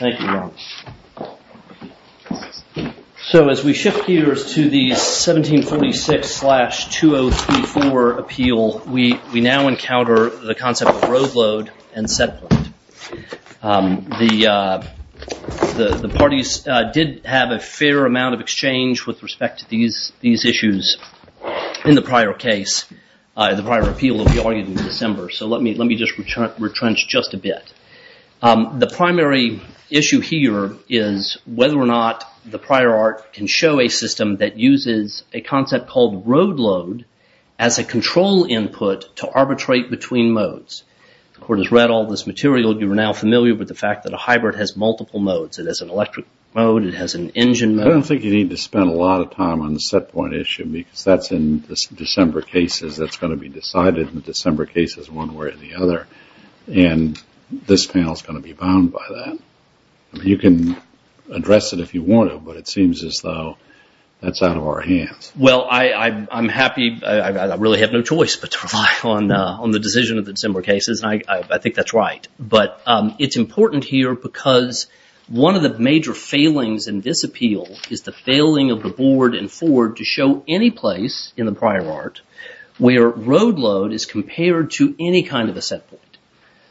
Thank you. So as we shift gears to the 1746-2034 appeal, we now encounter the concept of roadload and set point. The parties did have a fair amount of exchange with respect to these issues in the prior case. The prior appeal will be argued in December, so let me just retrench just a bit. The primary issue here is whether or not the prior art can show a system that uses a concept called roadload as a control input to arbitrate between modes. The Court has read all this material. You are now familiar with the fact that a hybrid has multiple modes. It has an electric mode. It has an engine mode. I don't think you need to spend a lot of time on the set point issue because that's in December cases that's going to be decided in the December cases one way or the other, and this panel is going to be bound by that. You can address it if you want to, but it seems as though that's out of our hands. Well, I'm happy. I really have no choice but to rely on the decision of the December cases, and I think that's right. But it's important here because one of the major failings in this appeal is the failing of the Board and Ford to show any place in the prior art where roadload is compared to any kind of a set point.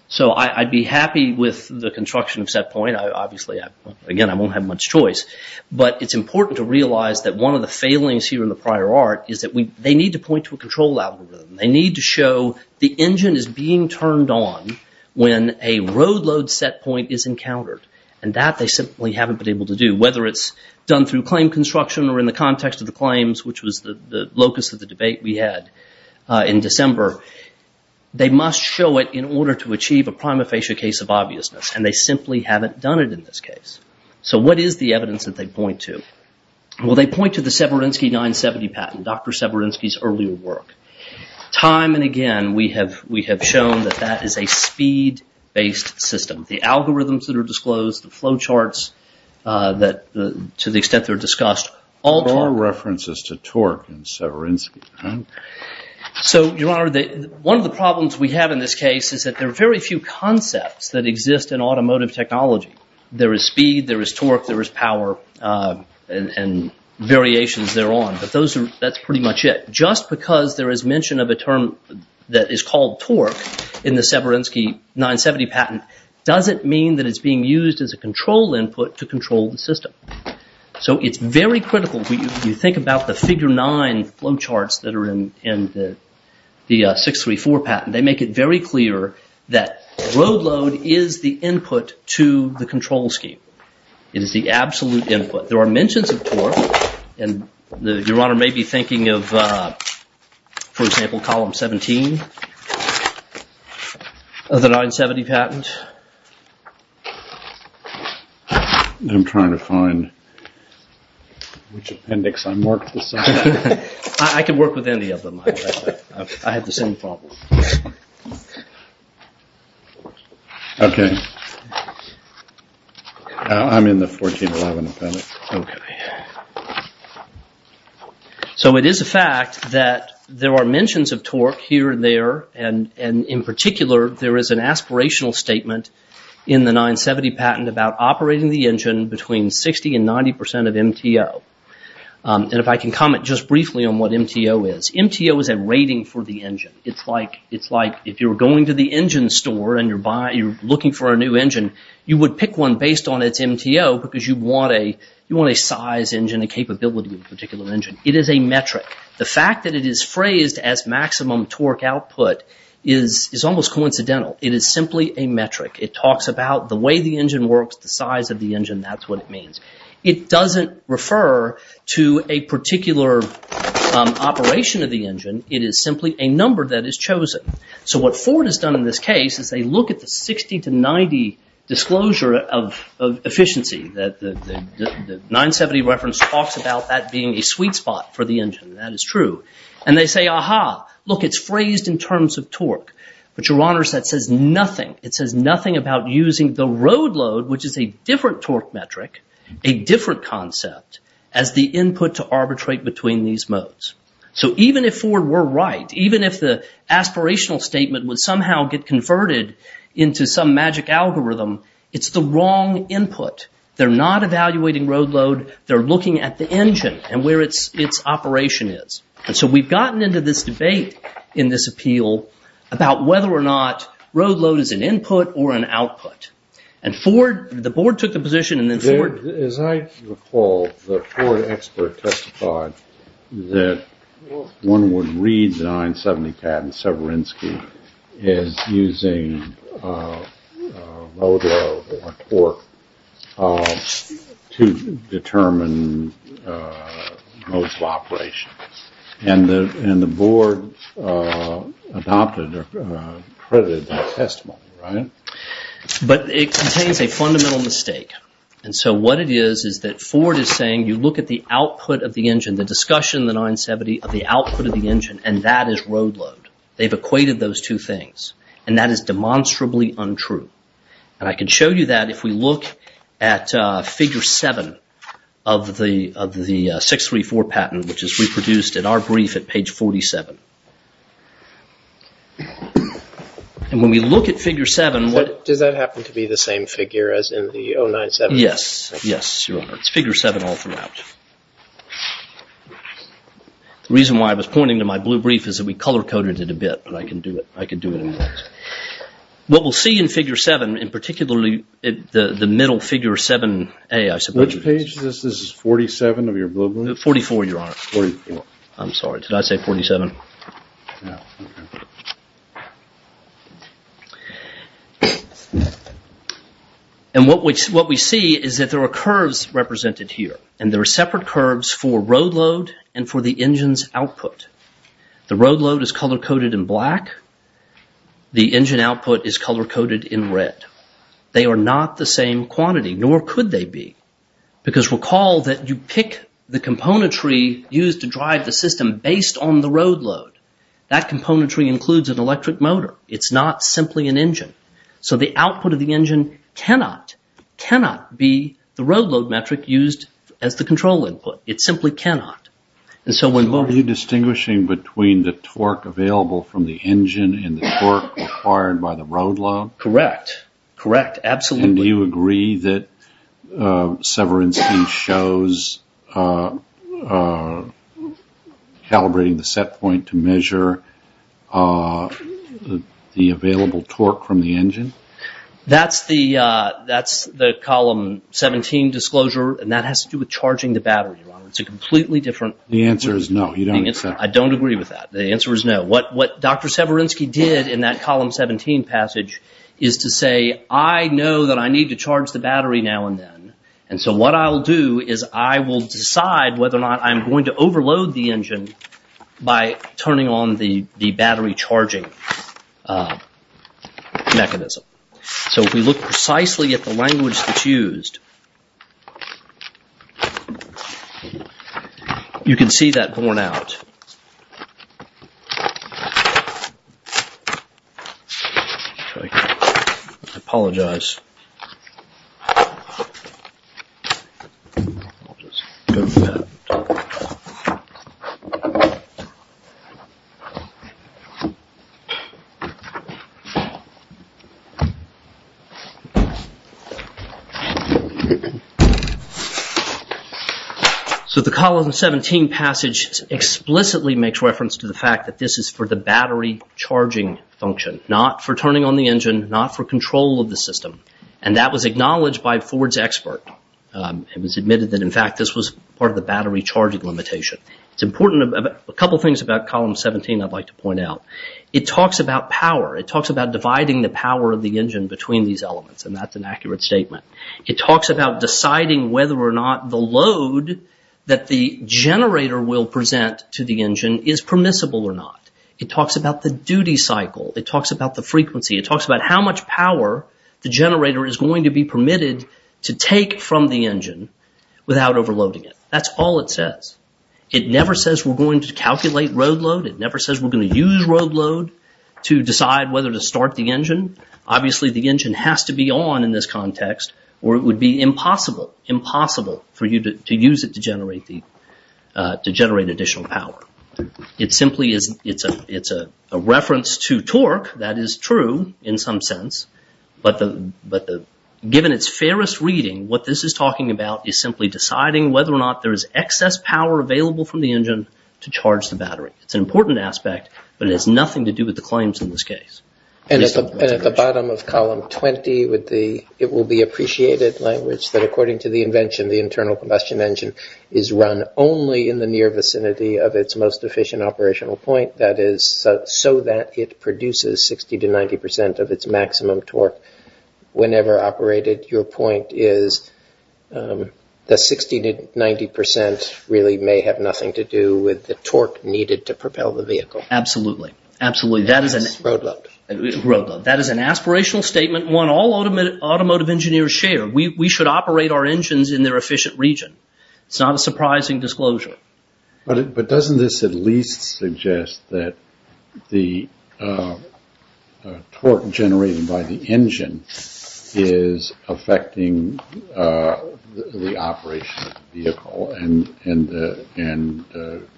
So I'd be happy with the construction of set point. Obviously, again, I won't have much choice, but it's important to realize that one of the failings here in the prior art is that they need to point to a control algorithm. They need to show the engine is being turned on when a roadload set point is encountered, and that they simply haven't been able to do, whether it's done through claim construction or in the context of the claims, which was the locus of the debate we had in December. They must show it in order to achieve a prima facie case of obviousness, and they simply haven't done it in this case. So what is the evidence that they point to? Well, they point to the Severinsky 970 patent, Dr. Severinsky's earlier work. Time and again, we have shown that that is a speed-based system. The algorithms that are disclosed, the flow charts, to the extent they're discussed, all of our references to torque in Severinsky. So, Your Honor, one of the problems we have in this case is that there are very few concepts that exist in automotive technology. There is speed, there is torque, there is power, and variations thereon, but that's pretty much it. Just because there is mention of a term that is called torque in the Severinsky 970 patent doesn't mean that it's being used as a control input to control the system. So it's very critical, if you think about the figure nine flow charts that are in the 634 patent, they make it very clear that road load is the input to the control scheme. It is the absolute input. There are mentions of torque, and Your Honor may be thinking of, for example, column 17 of the 970 patent. I'm trying to find which appendix I marked. I can work with any of them. I have the same problem. Okay. I'm in the 1411 appendix. Okay. So it is a fact that there are mentions of torque here and there, and in particular there is an aspirational statement in the 970 patent about operating the engine between 60 and 90 percent of MTO. And if I can comment just briefly on what MTO is. MTO is a rating for the engine. It's like if you're going to the engine store and you're looking for a new engine, you would pick one based on its MTO because you want a size engine, a capability of a particular engine. It is a metric. The fact that it is phrased as maximum torque output is almost coincidental. It is simply a metric. It talks about the way the engine works, the size of the engine, that's what it means. It doesn't refer to a particular operation of the engine. It is simply a number that is chosen. So what Ford has done in this case is they look at the 60 to 90 disclosure of efficiency. The 970 reference talks about that being a sweet spot for the engine. That is true. And they say, aha, look, it's phrased in terms of torque. But, Your Honors, that says nothing. It says nothing about using the road load, which is a different torque metric, a different concept as the input to arbitrate between these modes. So even if Ford were right, even if the aspirational statement would somehow get converted into some magic algorithm, it's the wrong input. They're not evaluating road load. They're looking at the engine and where its operation is. And so we've gotten into this debate in this appeal about whether or not road load is an input or an output. And Ford, the board took the position and then Ford... ...is using road load or torque to determine modes of operation. And the board adopted or credited that testimony, right? But it contains a fundamental mistake. And so what it is is that Ford is saying you look at the output of the engine, the discussion in the 970 of the output of the engine, and that is road load. They've equated those two things. And that is demonstrably untrue. And I can show you that if we look at figure 7 of the 634 patent, which is reproduced in our brief at page 47. And when we look at figure 7... Does that happen to be the same figure as in the 097? Yes. Yes, Your Honor. It's figure 7 all throughout. The reason why I was pointing to my blue brief is that we color-coded it a bit, but I can do it. I can do it in words. What we'll see in figure 7, and particularly the middle figure 7A, I suppose... Which page is this? This is 47 of your blue brief? 44, Your Honor. 44. I'm sorry. Did I say 47? No. And what we see is that there are curves represented here. And there are separate curves for road load and for the engine's output. The road load is color-coded in black. The engine output is color-coded in red. They are not the same quantity, nor could they be. Because recall that you pick the componentry used to drive the system based on the road load. That componentry includes an electric motor. It's not simply an engine. So the output of the engine cannot, cannot be the road load metric used as the control input. It simply cannot. Are you distinguishing between the torque available from the engine and the torque required by the road load? Correct. Correct. Absolutely. And do you agree that Severinsky shows calibrating the set point to measure the available torque from the engine? That's the Column 17 disclosure, and that has to do with charging the battery, Your Honor. It's a completely different... The answer is no. You don't accept it. I don't agree with that. The answer is no. What Dr. Severinsky did in that Column 17 passage is to say, I know that I need to charge the battery now and then. And so what I'll do is I will decide whether or not I'm going to overload the engine by turning on the battery charging mechanism. So if we look precisely at the language that's used, you can see that worn out. I apologize. So the Column 17 passage explicitly makes reference to the fact that this is for the And that was acknowledged by Ford's expert. It was admitted that, in fact, this was part of the battery charging limitation. It's important. A couple of things about Column 17 I'd like to point out. It talks about power. It talks about dividing the power of the engine between these elements, and that's an accurate statement. It talks about deciding whether or not the load that the generator will present to the engine is permissible or not. It talks about the duty cycle. It talks about the frequency. It talks about how much power the generator is going to be permitted to take from the engine without overloading it. That's all it says. It never says we're going to calculate road load. It never says we're going to use road load to decide whether to start the engine. Obviously, the engine has to be on in this context, or it would be impossible, impossible for you to use it to generate additional power. It simply is, it's a reference to torque. That is true in some sense. But given its fairest reading, what this is talking about is simply deciding whether or not there is excess power available from the engine to charge the battery. It's an important aspect, but it has nothing to do with the claims in this case. And at the bottom of Column 20, it will be appreciated language that, according to the Convention, the internal combustion engine is run only in the near vicinity of its most efficient operational point, that is, so that it produces 60 to 90 percent of its maximum torque whenever operated. Your point is that 60 to 90 percent really may have nothing to do with the torque needed to propel the vehicle. Absolutely. Absolutely. Road load. Road load. That is an aspirational statement, one all automotive engineers share. We should operate our engines in their efficient region. It's not a surprising disclosure. But doesn't this at least suggest that the torque generated by the engine is affecting the operation of the vehicle and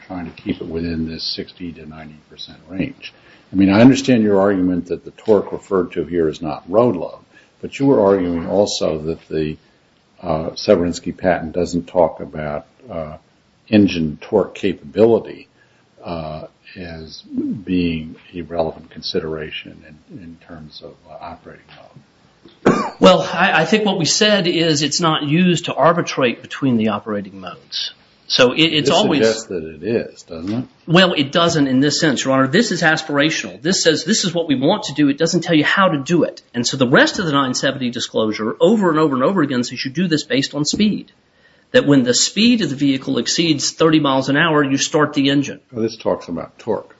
trying to keep it within this 60 to 90 percent range? I mean, I understand your argument that the torque referred to here is not road load, but you were arguing also that the Severinsky patent doesn't talk about engine torque capability as being a relevant consideration in terms of operating mode. Well, I think what we said is it's not used to arbitrate between the operating modes. So it's always… It suggests that it is, doesn't it? Well, it doesn't in this sense, Your Honor. This is aspirational. This says this is what we want to do. It doesn't tell you how to do it. And so the rest of the 970 disclosure over and over and over again says you should do this based on speed. That when the speed of the vehicle exceeds 30 miles an hour, you start the engine. This talks about torque.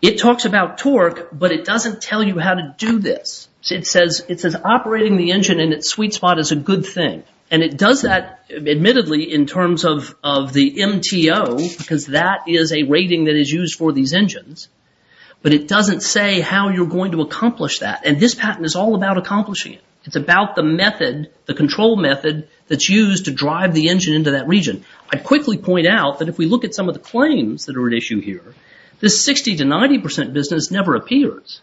It talks about torque, but it doesn't tell you how to do this. It says operating the engine in its sweet spot is a good thing. And it does that, admittedly, in terms of the MTO, because that is a rating that is used for these engines. But it doesn't say how you're going to accomplish that. And this patent is all about accomplishing it. It's about the method, the control method, that's used to drive the engine into that region. I'd quickly point out that if we look at some of the claims that are at issue here, this 60 to 90 percent business never appears.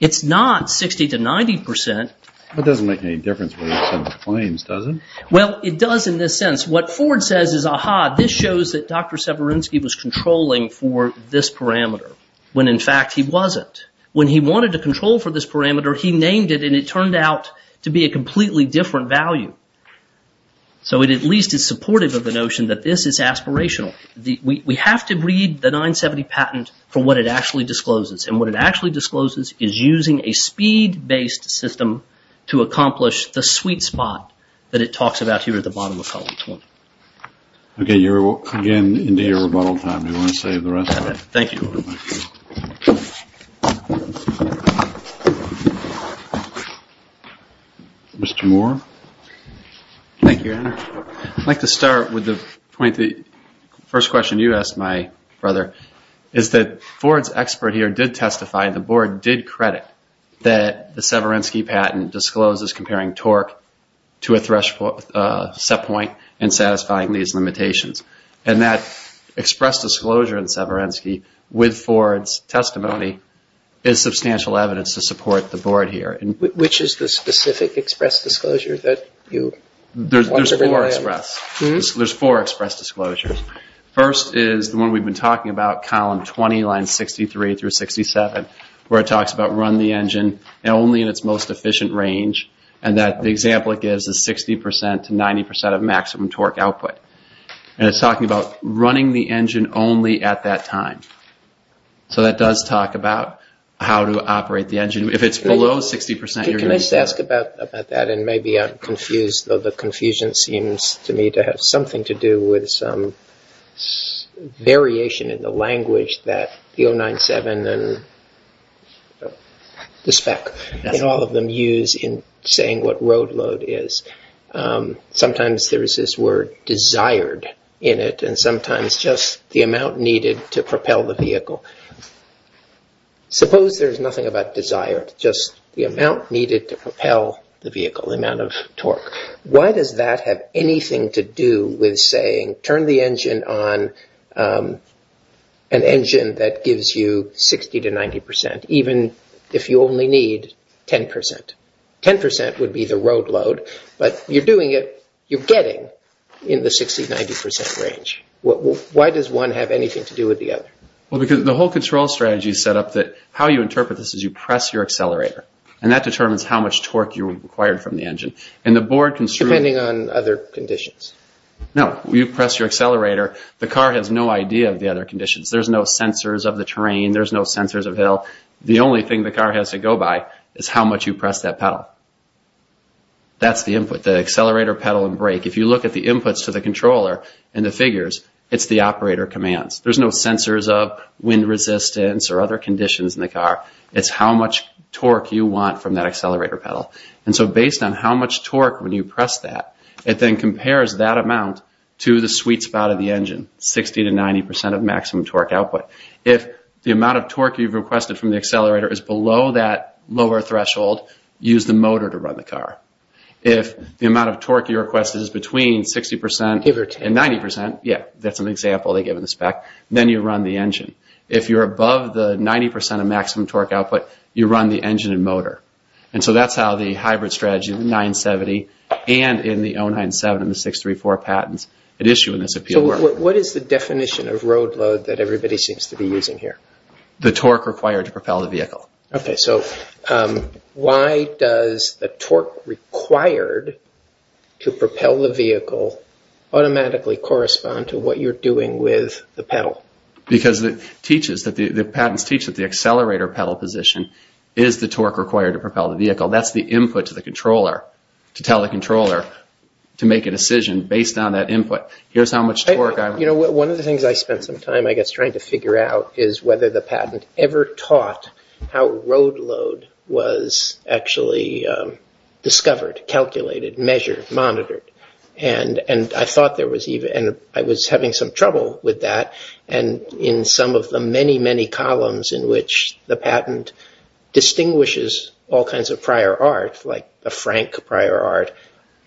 It's not 60 to 90 percent. But it doesn't make any difference when you send the claims, does it? Well, it does in this sense. What Ford says is, aha, this shows that Dr. Severinsky was controlling for this parameter, when in fact he wasn't. When he wanted to control for this parameter, he named it and it turned out to be a completely different value. So it at least is supportive of the notion that this is aspirational. We have to read the 970 patent for what it actually discloses. And what it actually discloses is using a speed-based system to accomplish the sweet spot that it talks about here at the bottom of column 20. Okay, you're again into your rebuttal time. Do you want to save the rest of it? Thank you. Mr. Moore. Thank you, Andrew. I'd like to start with the point, the first question you asked my brother, is that Ford's expert here did testify, the board did credit, that the Severinsky patent discloses comparing torque to a threshold set point and satisfying these limitations. And that express disclosure in Severinsky, with Ford's testimony, is substantial evidence to support the board here. Which is the specific express disclosure that you want to rely on? There's four express disclosures. First is the one we've been talking about, column 20, lines 63 through 67, where it talks about run the engine only in its most efficient range and that the example it gives is 60% to 90% of maximum torque output. And it's talking about running the engine only at that time. So that does talk about how to operate the engine. If it's below 60%, you're going to... Can I just ask about that and maybe I'm confused, though the confusion seems to me to have something to do with some variation in the language that the 097 and the spec, and all of them use in saying what road load is. Sometimes there is this word desired in it and sometimes just the amount needed to propel the vehicle. Suppose there's nothing about desire, just the amount needed to propel the vehicle, the amount of torque. Why does that have anything to do with saying turn the engine on, an engine that gives you 60% to 90%, even if you only need 10%? 10% would be the road load, but you're doing it, you're getting in the 60-90% range. Why does one have anything to do with the other? Well, because the whole control strategy is set up that how you interpret this is you press your accelerator and that determines how much torque you require from the engine. And the board can... Depending on other conditions. No, you press your accelerator, the car has no idea of the other conditions. There's no sensors of the terrain, there's no sensors of hill. The only thing the car has to go by is how much you press that pedal. That's the input, the accelerator, pedal, and brake. If you look at the inputs to the controller and the figures, it's the operator commands. There's no sensors of wind resistance or other conditions in the car. It's how much torque you want from that accelerator pedal. And so based on how much torque when you press that, it then compares that amount to the sweet spot of the engine, 60% to 90% of maximum torque output. If the amount of torque you've requested from the accelerator is below that lower threshold, use the motor to run the car. If the amount of torque you requested is between 60% and 90%, yeah, that's an example they give in the spec, then you run the engine. If you're above the 90% of maximum torque output, you run the engine and motor. And so that's how the hybrid strategy of 970 and in the 097 and the 634 patents issue in this appeal. So what is the definition of road load that everybody seems to be using here? The torque required to propel the vehicle. Okay, so why does the torque required to propel the vehicle automatically correspond to what you're doing with the pedal? Because the patents teach that the accelerator pedal position is the torque required to propel the vehicle. That's the input to the controller to tell the controller to make a decision based on that input. You know, one of the things I spent some time, I guess, trying to figure out is whether the patent ever taught how road load was actually discovered, calculated, measured, monitored. And I was having some trouble with that. And in some of the many, many columns in which the patent distinguishes all kinds of prior art, like a frank prior art,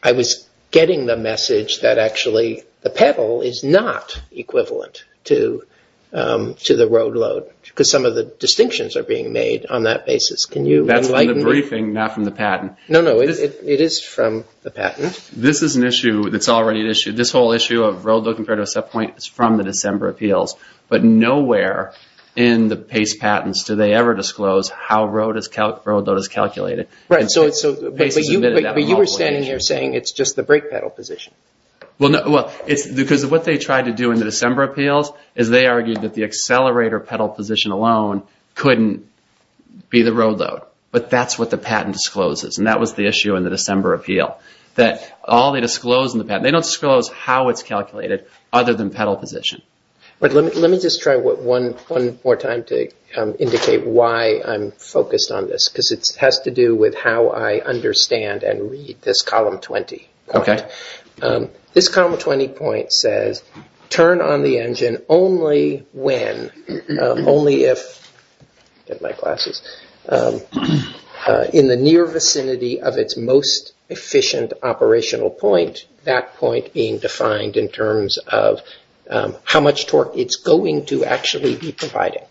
I was getting the message that actually the pedal is not equivalent to the road load because some of the distinctions are being made on that basis. That's from the briefing, not from the patent. No, no, it is from the patent. This is an issue that's already an issue. This whole issue of road load compared to a set point is from the December appeals. But nowhere in the PACE patents do they ever disclose how road load is calculated. But you were standing here saying it's just the brake pedal position. Well, because what they tried to do in the December appeals is they argued that the accelerator pedal position alone couldn't be the road load. But that's what the patent discloses, and that was the issue in the December appeal. All they disclosed in the patent, they don't disclose how it's calculated other than pedal position. Let me just try one more time to indicate why I'm focused on this because it has to do with how I understand and read this column 20. This column 20 point says, turn on the engine only when, only if, get my glasses, in the near vicinity of its most efficient operational point, that point being defined in terms of how much torque it's going to actually be providing.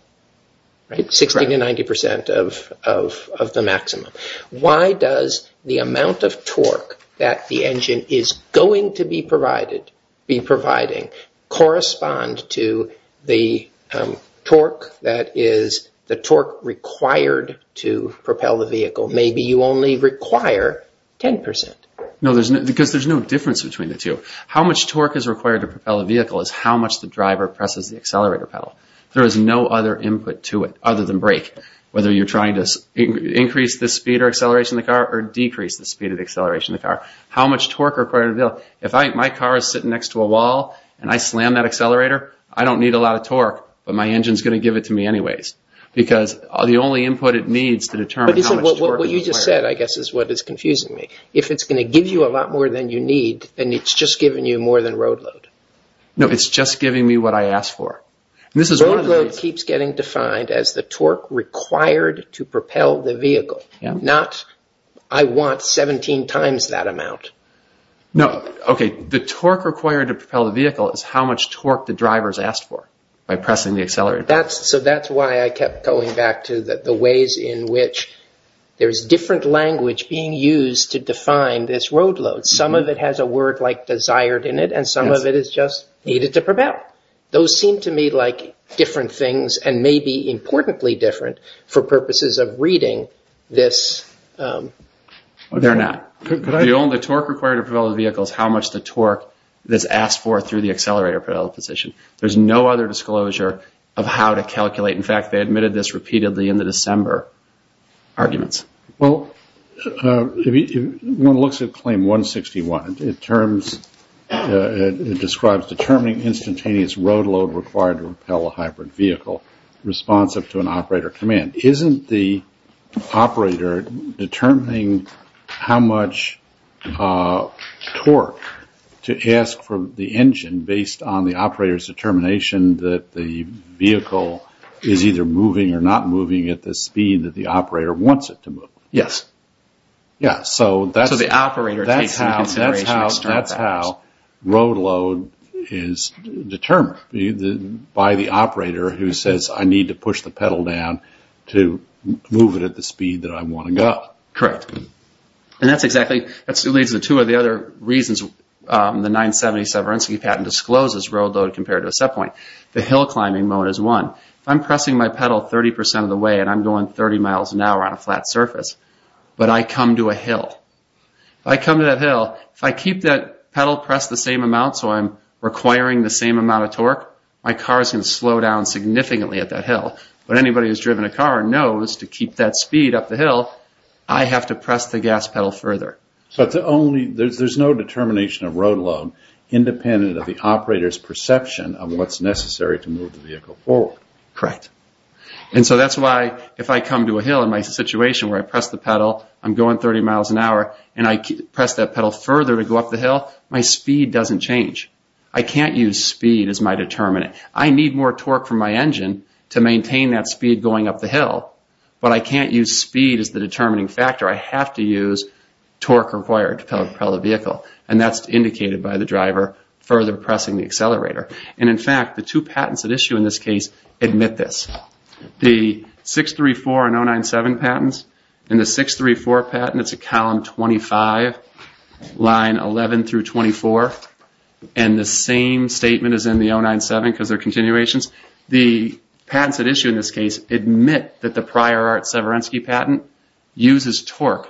60 to 90 percent of the maximum. Why does the amount of torque that the engine is going to be providing correspond to the torque that is the torque required to propel the vehicle? Maybe you only require 10 percent. No, because there's no difference between the two. How much torque is required to propel a vehicle is how much the driver presses the accelerator pedal. There is no other input to it other than brake, whether you're trying to increase the speed or acceleration of the car or decrease the speed or acceleration of the car. How much torque is required? If my car is sitting next to a wall and I slam that accelerator, I don't need a lot of torque, but my engine is going to give it to me anyways because the only input it needs to determine how much torque is required. What you just said, I guess, is what is confusing me. If it's going to give you a lot more than you need, then it's just giving you more than road load. No, it's just giving me what I ask for. Road load keeps getting defined as the torque required to propel the vehicle, not I want 17 times that amount. No, okay. The torque required to propel the vehicle is how much torque the driver has asked for by pressing the accelerator. So that's why I kept going back to the ways in which there's different language being used to define this road load. Some of it has a word like desired in it, and some of it is just needed to propel. Those seem to me like different things and may be importantly different for purposes of reading this. They're not. The only torque required to propel the vehicle is how much the torque is asked for through the accelerator position. There's no other disclosure of how to calculate. In fact, they admitted this repeatedly in the December arguments. Well, one looks at claim 161. It describes determining instantaneous road load required to propel a hybrid vehicle responsive to an operator command. Isn't the operator determining how much torque to ask for the engine based on the operator's determination that the vehicle is either moving or not moving at the time the operator wants it to move? Yes. So the operator takes into consideration external factors. That's how road load is determined by the operator who says, I need to push the pedal down to move it at the speed that I want to go. Correct. And that leads to two of the other reasons the 970 Severinsky patent discloses road load compared to a set point. The hill climbing mode is one. If I'm pressing my pedal 30% of the way and I'm going 30 miles an hour on a flat surface, but I come to a hill, if I come to that hill, if I keep that pedal pressed the same amount so I'm requiring the same amount of torque, my car is going to slow down significantly at that hill. But anybody who's driven a car knows to keep that speed up the hill, I have to press the gas pedal further. So there's no determination of road load independent of the operator's perception of what's necessary to move the vehicle forward. Correct. And so that's why if I come to a hill in my situation where I press the pedal, I'm going 30 miles an hour, and I press that pedal further to go up the hill, my speed doesn't change. I can't use speed as my determinant. I need more torque from my engine to maintain that speed going up the hill, but I can't use speed as the determining factor. I have to use torque required to propel the vehicle, and that's indicated by the driver further pressing the accelerator. And, in fact, the two patents at issue in this case admit this. The 634 and 097 patents, in the 634 patent it's a column 25, line 11 through 24, and the same statement is in the 097 because they're continuations. The patents at issue in this case admit that the Prior Art Severensky patent uses torque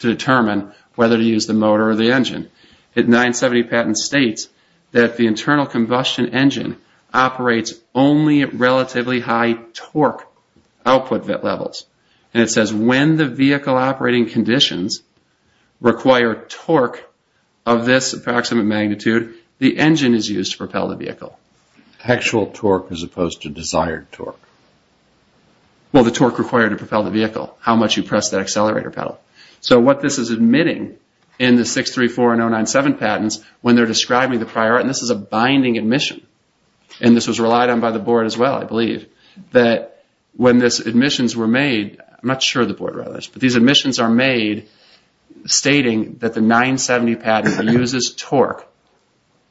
to determine whether to use the motor or the engine. The 970 patent states that the internal combustion engine operates only at relatively high torque output levels, and it says when the vehicle operating conditions require torque of this approximate magnitude, the engine is used to propel the vehicle. Actual torque as opposed to desired torque. Well, the torque required to propel the vehicle, how much you press that accelerator pedal. So what this is admitting in the 634 and 097 patents when they're describing the Prior Art, and this is a binding admission, and this was relied on by the board as well, I believe, that when these admissions were made, I'm not sure the board wrote this, but these admissions are made stating that the 970 patent uses torque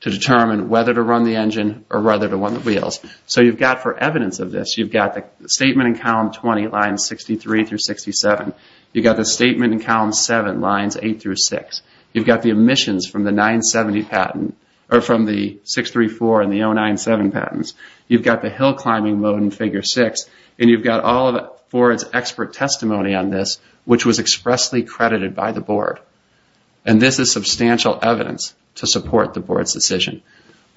to determine whether to run the engine or whether to run the wheels. So you've got for evidence of this, you've got the statement in column 20, lines 63 through 67. You've got the statement in column 7, lines 8 through 6. You've got the admissions from the 970 patent, or from the 634 and the 097 patents. You've got the hill climbing mode in figure 6, and you've got all of Ford's expert testimony on this, which was expressly credited by the board. And this is substantial evidence to support the board's decision.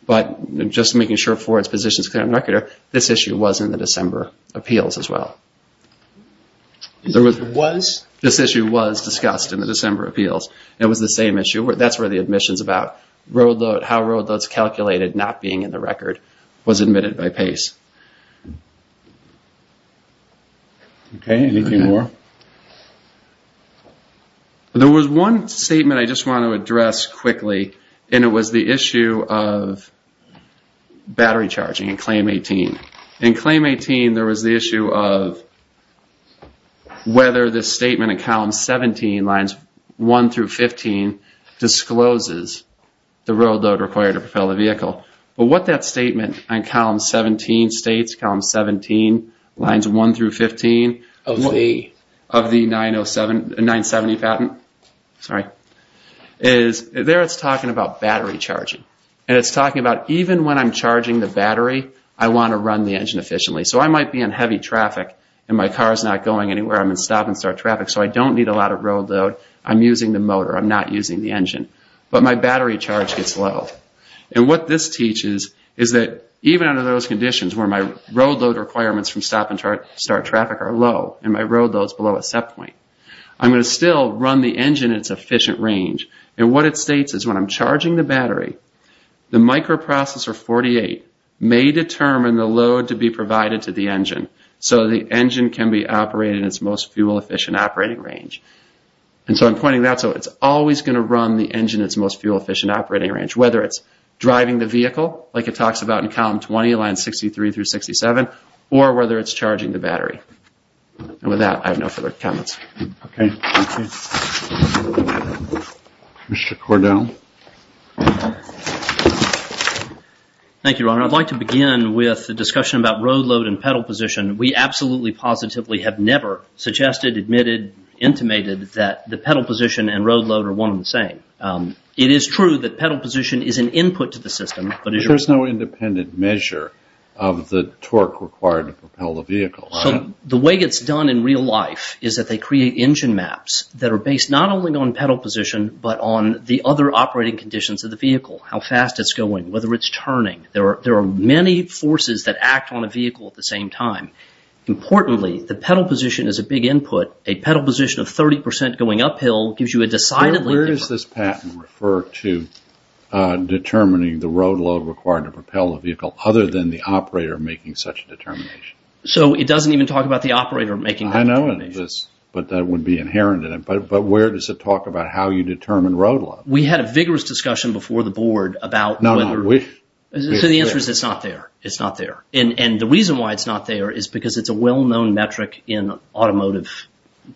But just making sure Ford's position is clear on the record, this issue was in the December appeals as well. This issue was discussed in the December appeals. It was the same issue. That's where the admissions about how road loads calculated not being in the record was admitted by Pace. Okay, anything more? There was one statement I just want to address quickly, and it was the issue of battery charging in claim 18. In claim 18 there was the issue of whether the statement in column 17, lines 1 through 15, discloses the road load required to propel the vehicle. But what that statement in column 17 states, column 17, lines 1 through 15, of the 970 patent, is there it's talking about battery charging. And it's talking about even when I'm charging the battery, I want to run the engine efficiently. So I might be in heavy traffic and my car's not going anywhere, I'm in stop and start traffic, so I don't need a lot of road load, I'm using the motor, I'm not using the engine. But my battery charge gets low. And what this teaches is that even under those conditions where my road load requirements from stop and start traffic are low, and my road load's below a set point, I'm going to still run the engine at its efficient range. And what it states is when I'm charging the battery, the microprocessor 48 may determine the load to be provided to the engine, so the engine can be operated at its most fuel-efficient operating range. And so I'm pointing that out, so it's always going to run the engine at its most fuel-efficient operating range, whether it's driving the vehicle, like it talks about in column 20, lines 63 through 67, or whether it's charging the battery. And with that, I have no further comments. Okay, thank you. Mr. Cordell. Thank you, Your Honor. I'd like to begin with a discussion about road load and pedal position. We absolutely positively have never suggested, admitted, intimated that the pedal position and road load are one and the same. It is true that pedal position is an input to the system, but it's... There's no independent measure of the torque required to propel the vehicle. So the way it's done in real life is that they create engine maps that are based not only on pedal position, but on the other operating conditions of the vehicle, how fast it's going, whether it's turning. There are many forces that act on a vehicle at the same time. Importantly, the pedal position is a big input. A pedal position of 30 percent going uphill gives you a decidedly different... Where does this patent refer to determining the road load required to propel a vehicle, other than the operator making such a determination? So it doesn't even talk about the operator making that determination. I know, but that would be inherent in it. But where does it talk about how you determine road load? We had a vigorous discussion before the Board about whether... No, no, we... So the answer is it's not there. It's not there. And the reason why it's not there is because it's a well-known metric in automotive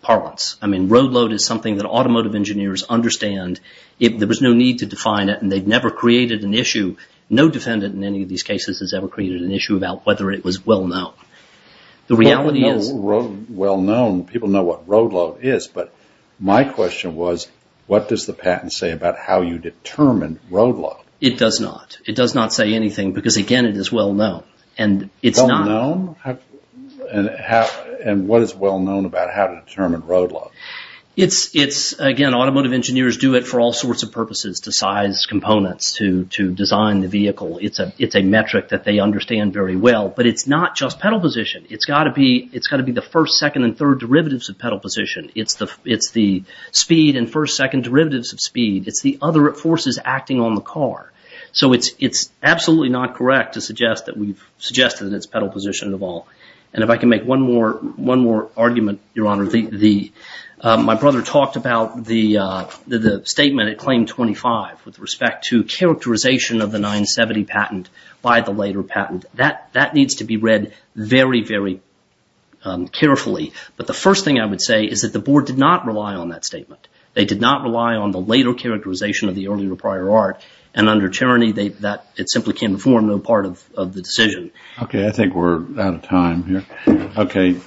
parlance. I mean, road load is something that automotive engineers understand. There was no need to define it, and they've never created an issue. No defendant in any of these cases has ever created an issue about whether it was well-known. The reality is... Well-known, people know what road load is. But my question was, what does the patent say about how you determine road load? It does not. It does not say anything because, again, it is well-known. And it's not... Well-known? And what is well-known about how to determine road load? It's, again, automotive engineers do it for all sorts of purposes, to size components, to design the vehicle. It's a metric that they understand very well. But it's not just pedal position. It's got to be the first, second, and third derivatives of pedal position. It's the speed and first, second derivatives of speed. It's the other forces acting on the car. So it's absolutely not correct to suggest that we've suggested that it's pedal position of all. And if I can make one more argument, Your Honor. My brother talked about the statement at Claim 25 with respect to characterization of the 970 patent by the later patent. That needs to be read very, very carefully. But the first thing I would say is that the Board did not rely on that statement. They did not rely on the later characterization of the earlier or prior art. And under tyranny, it simply can't inform no part of the decision. Okay, I think we're out of time here.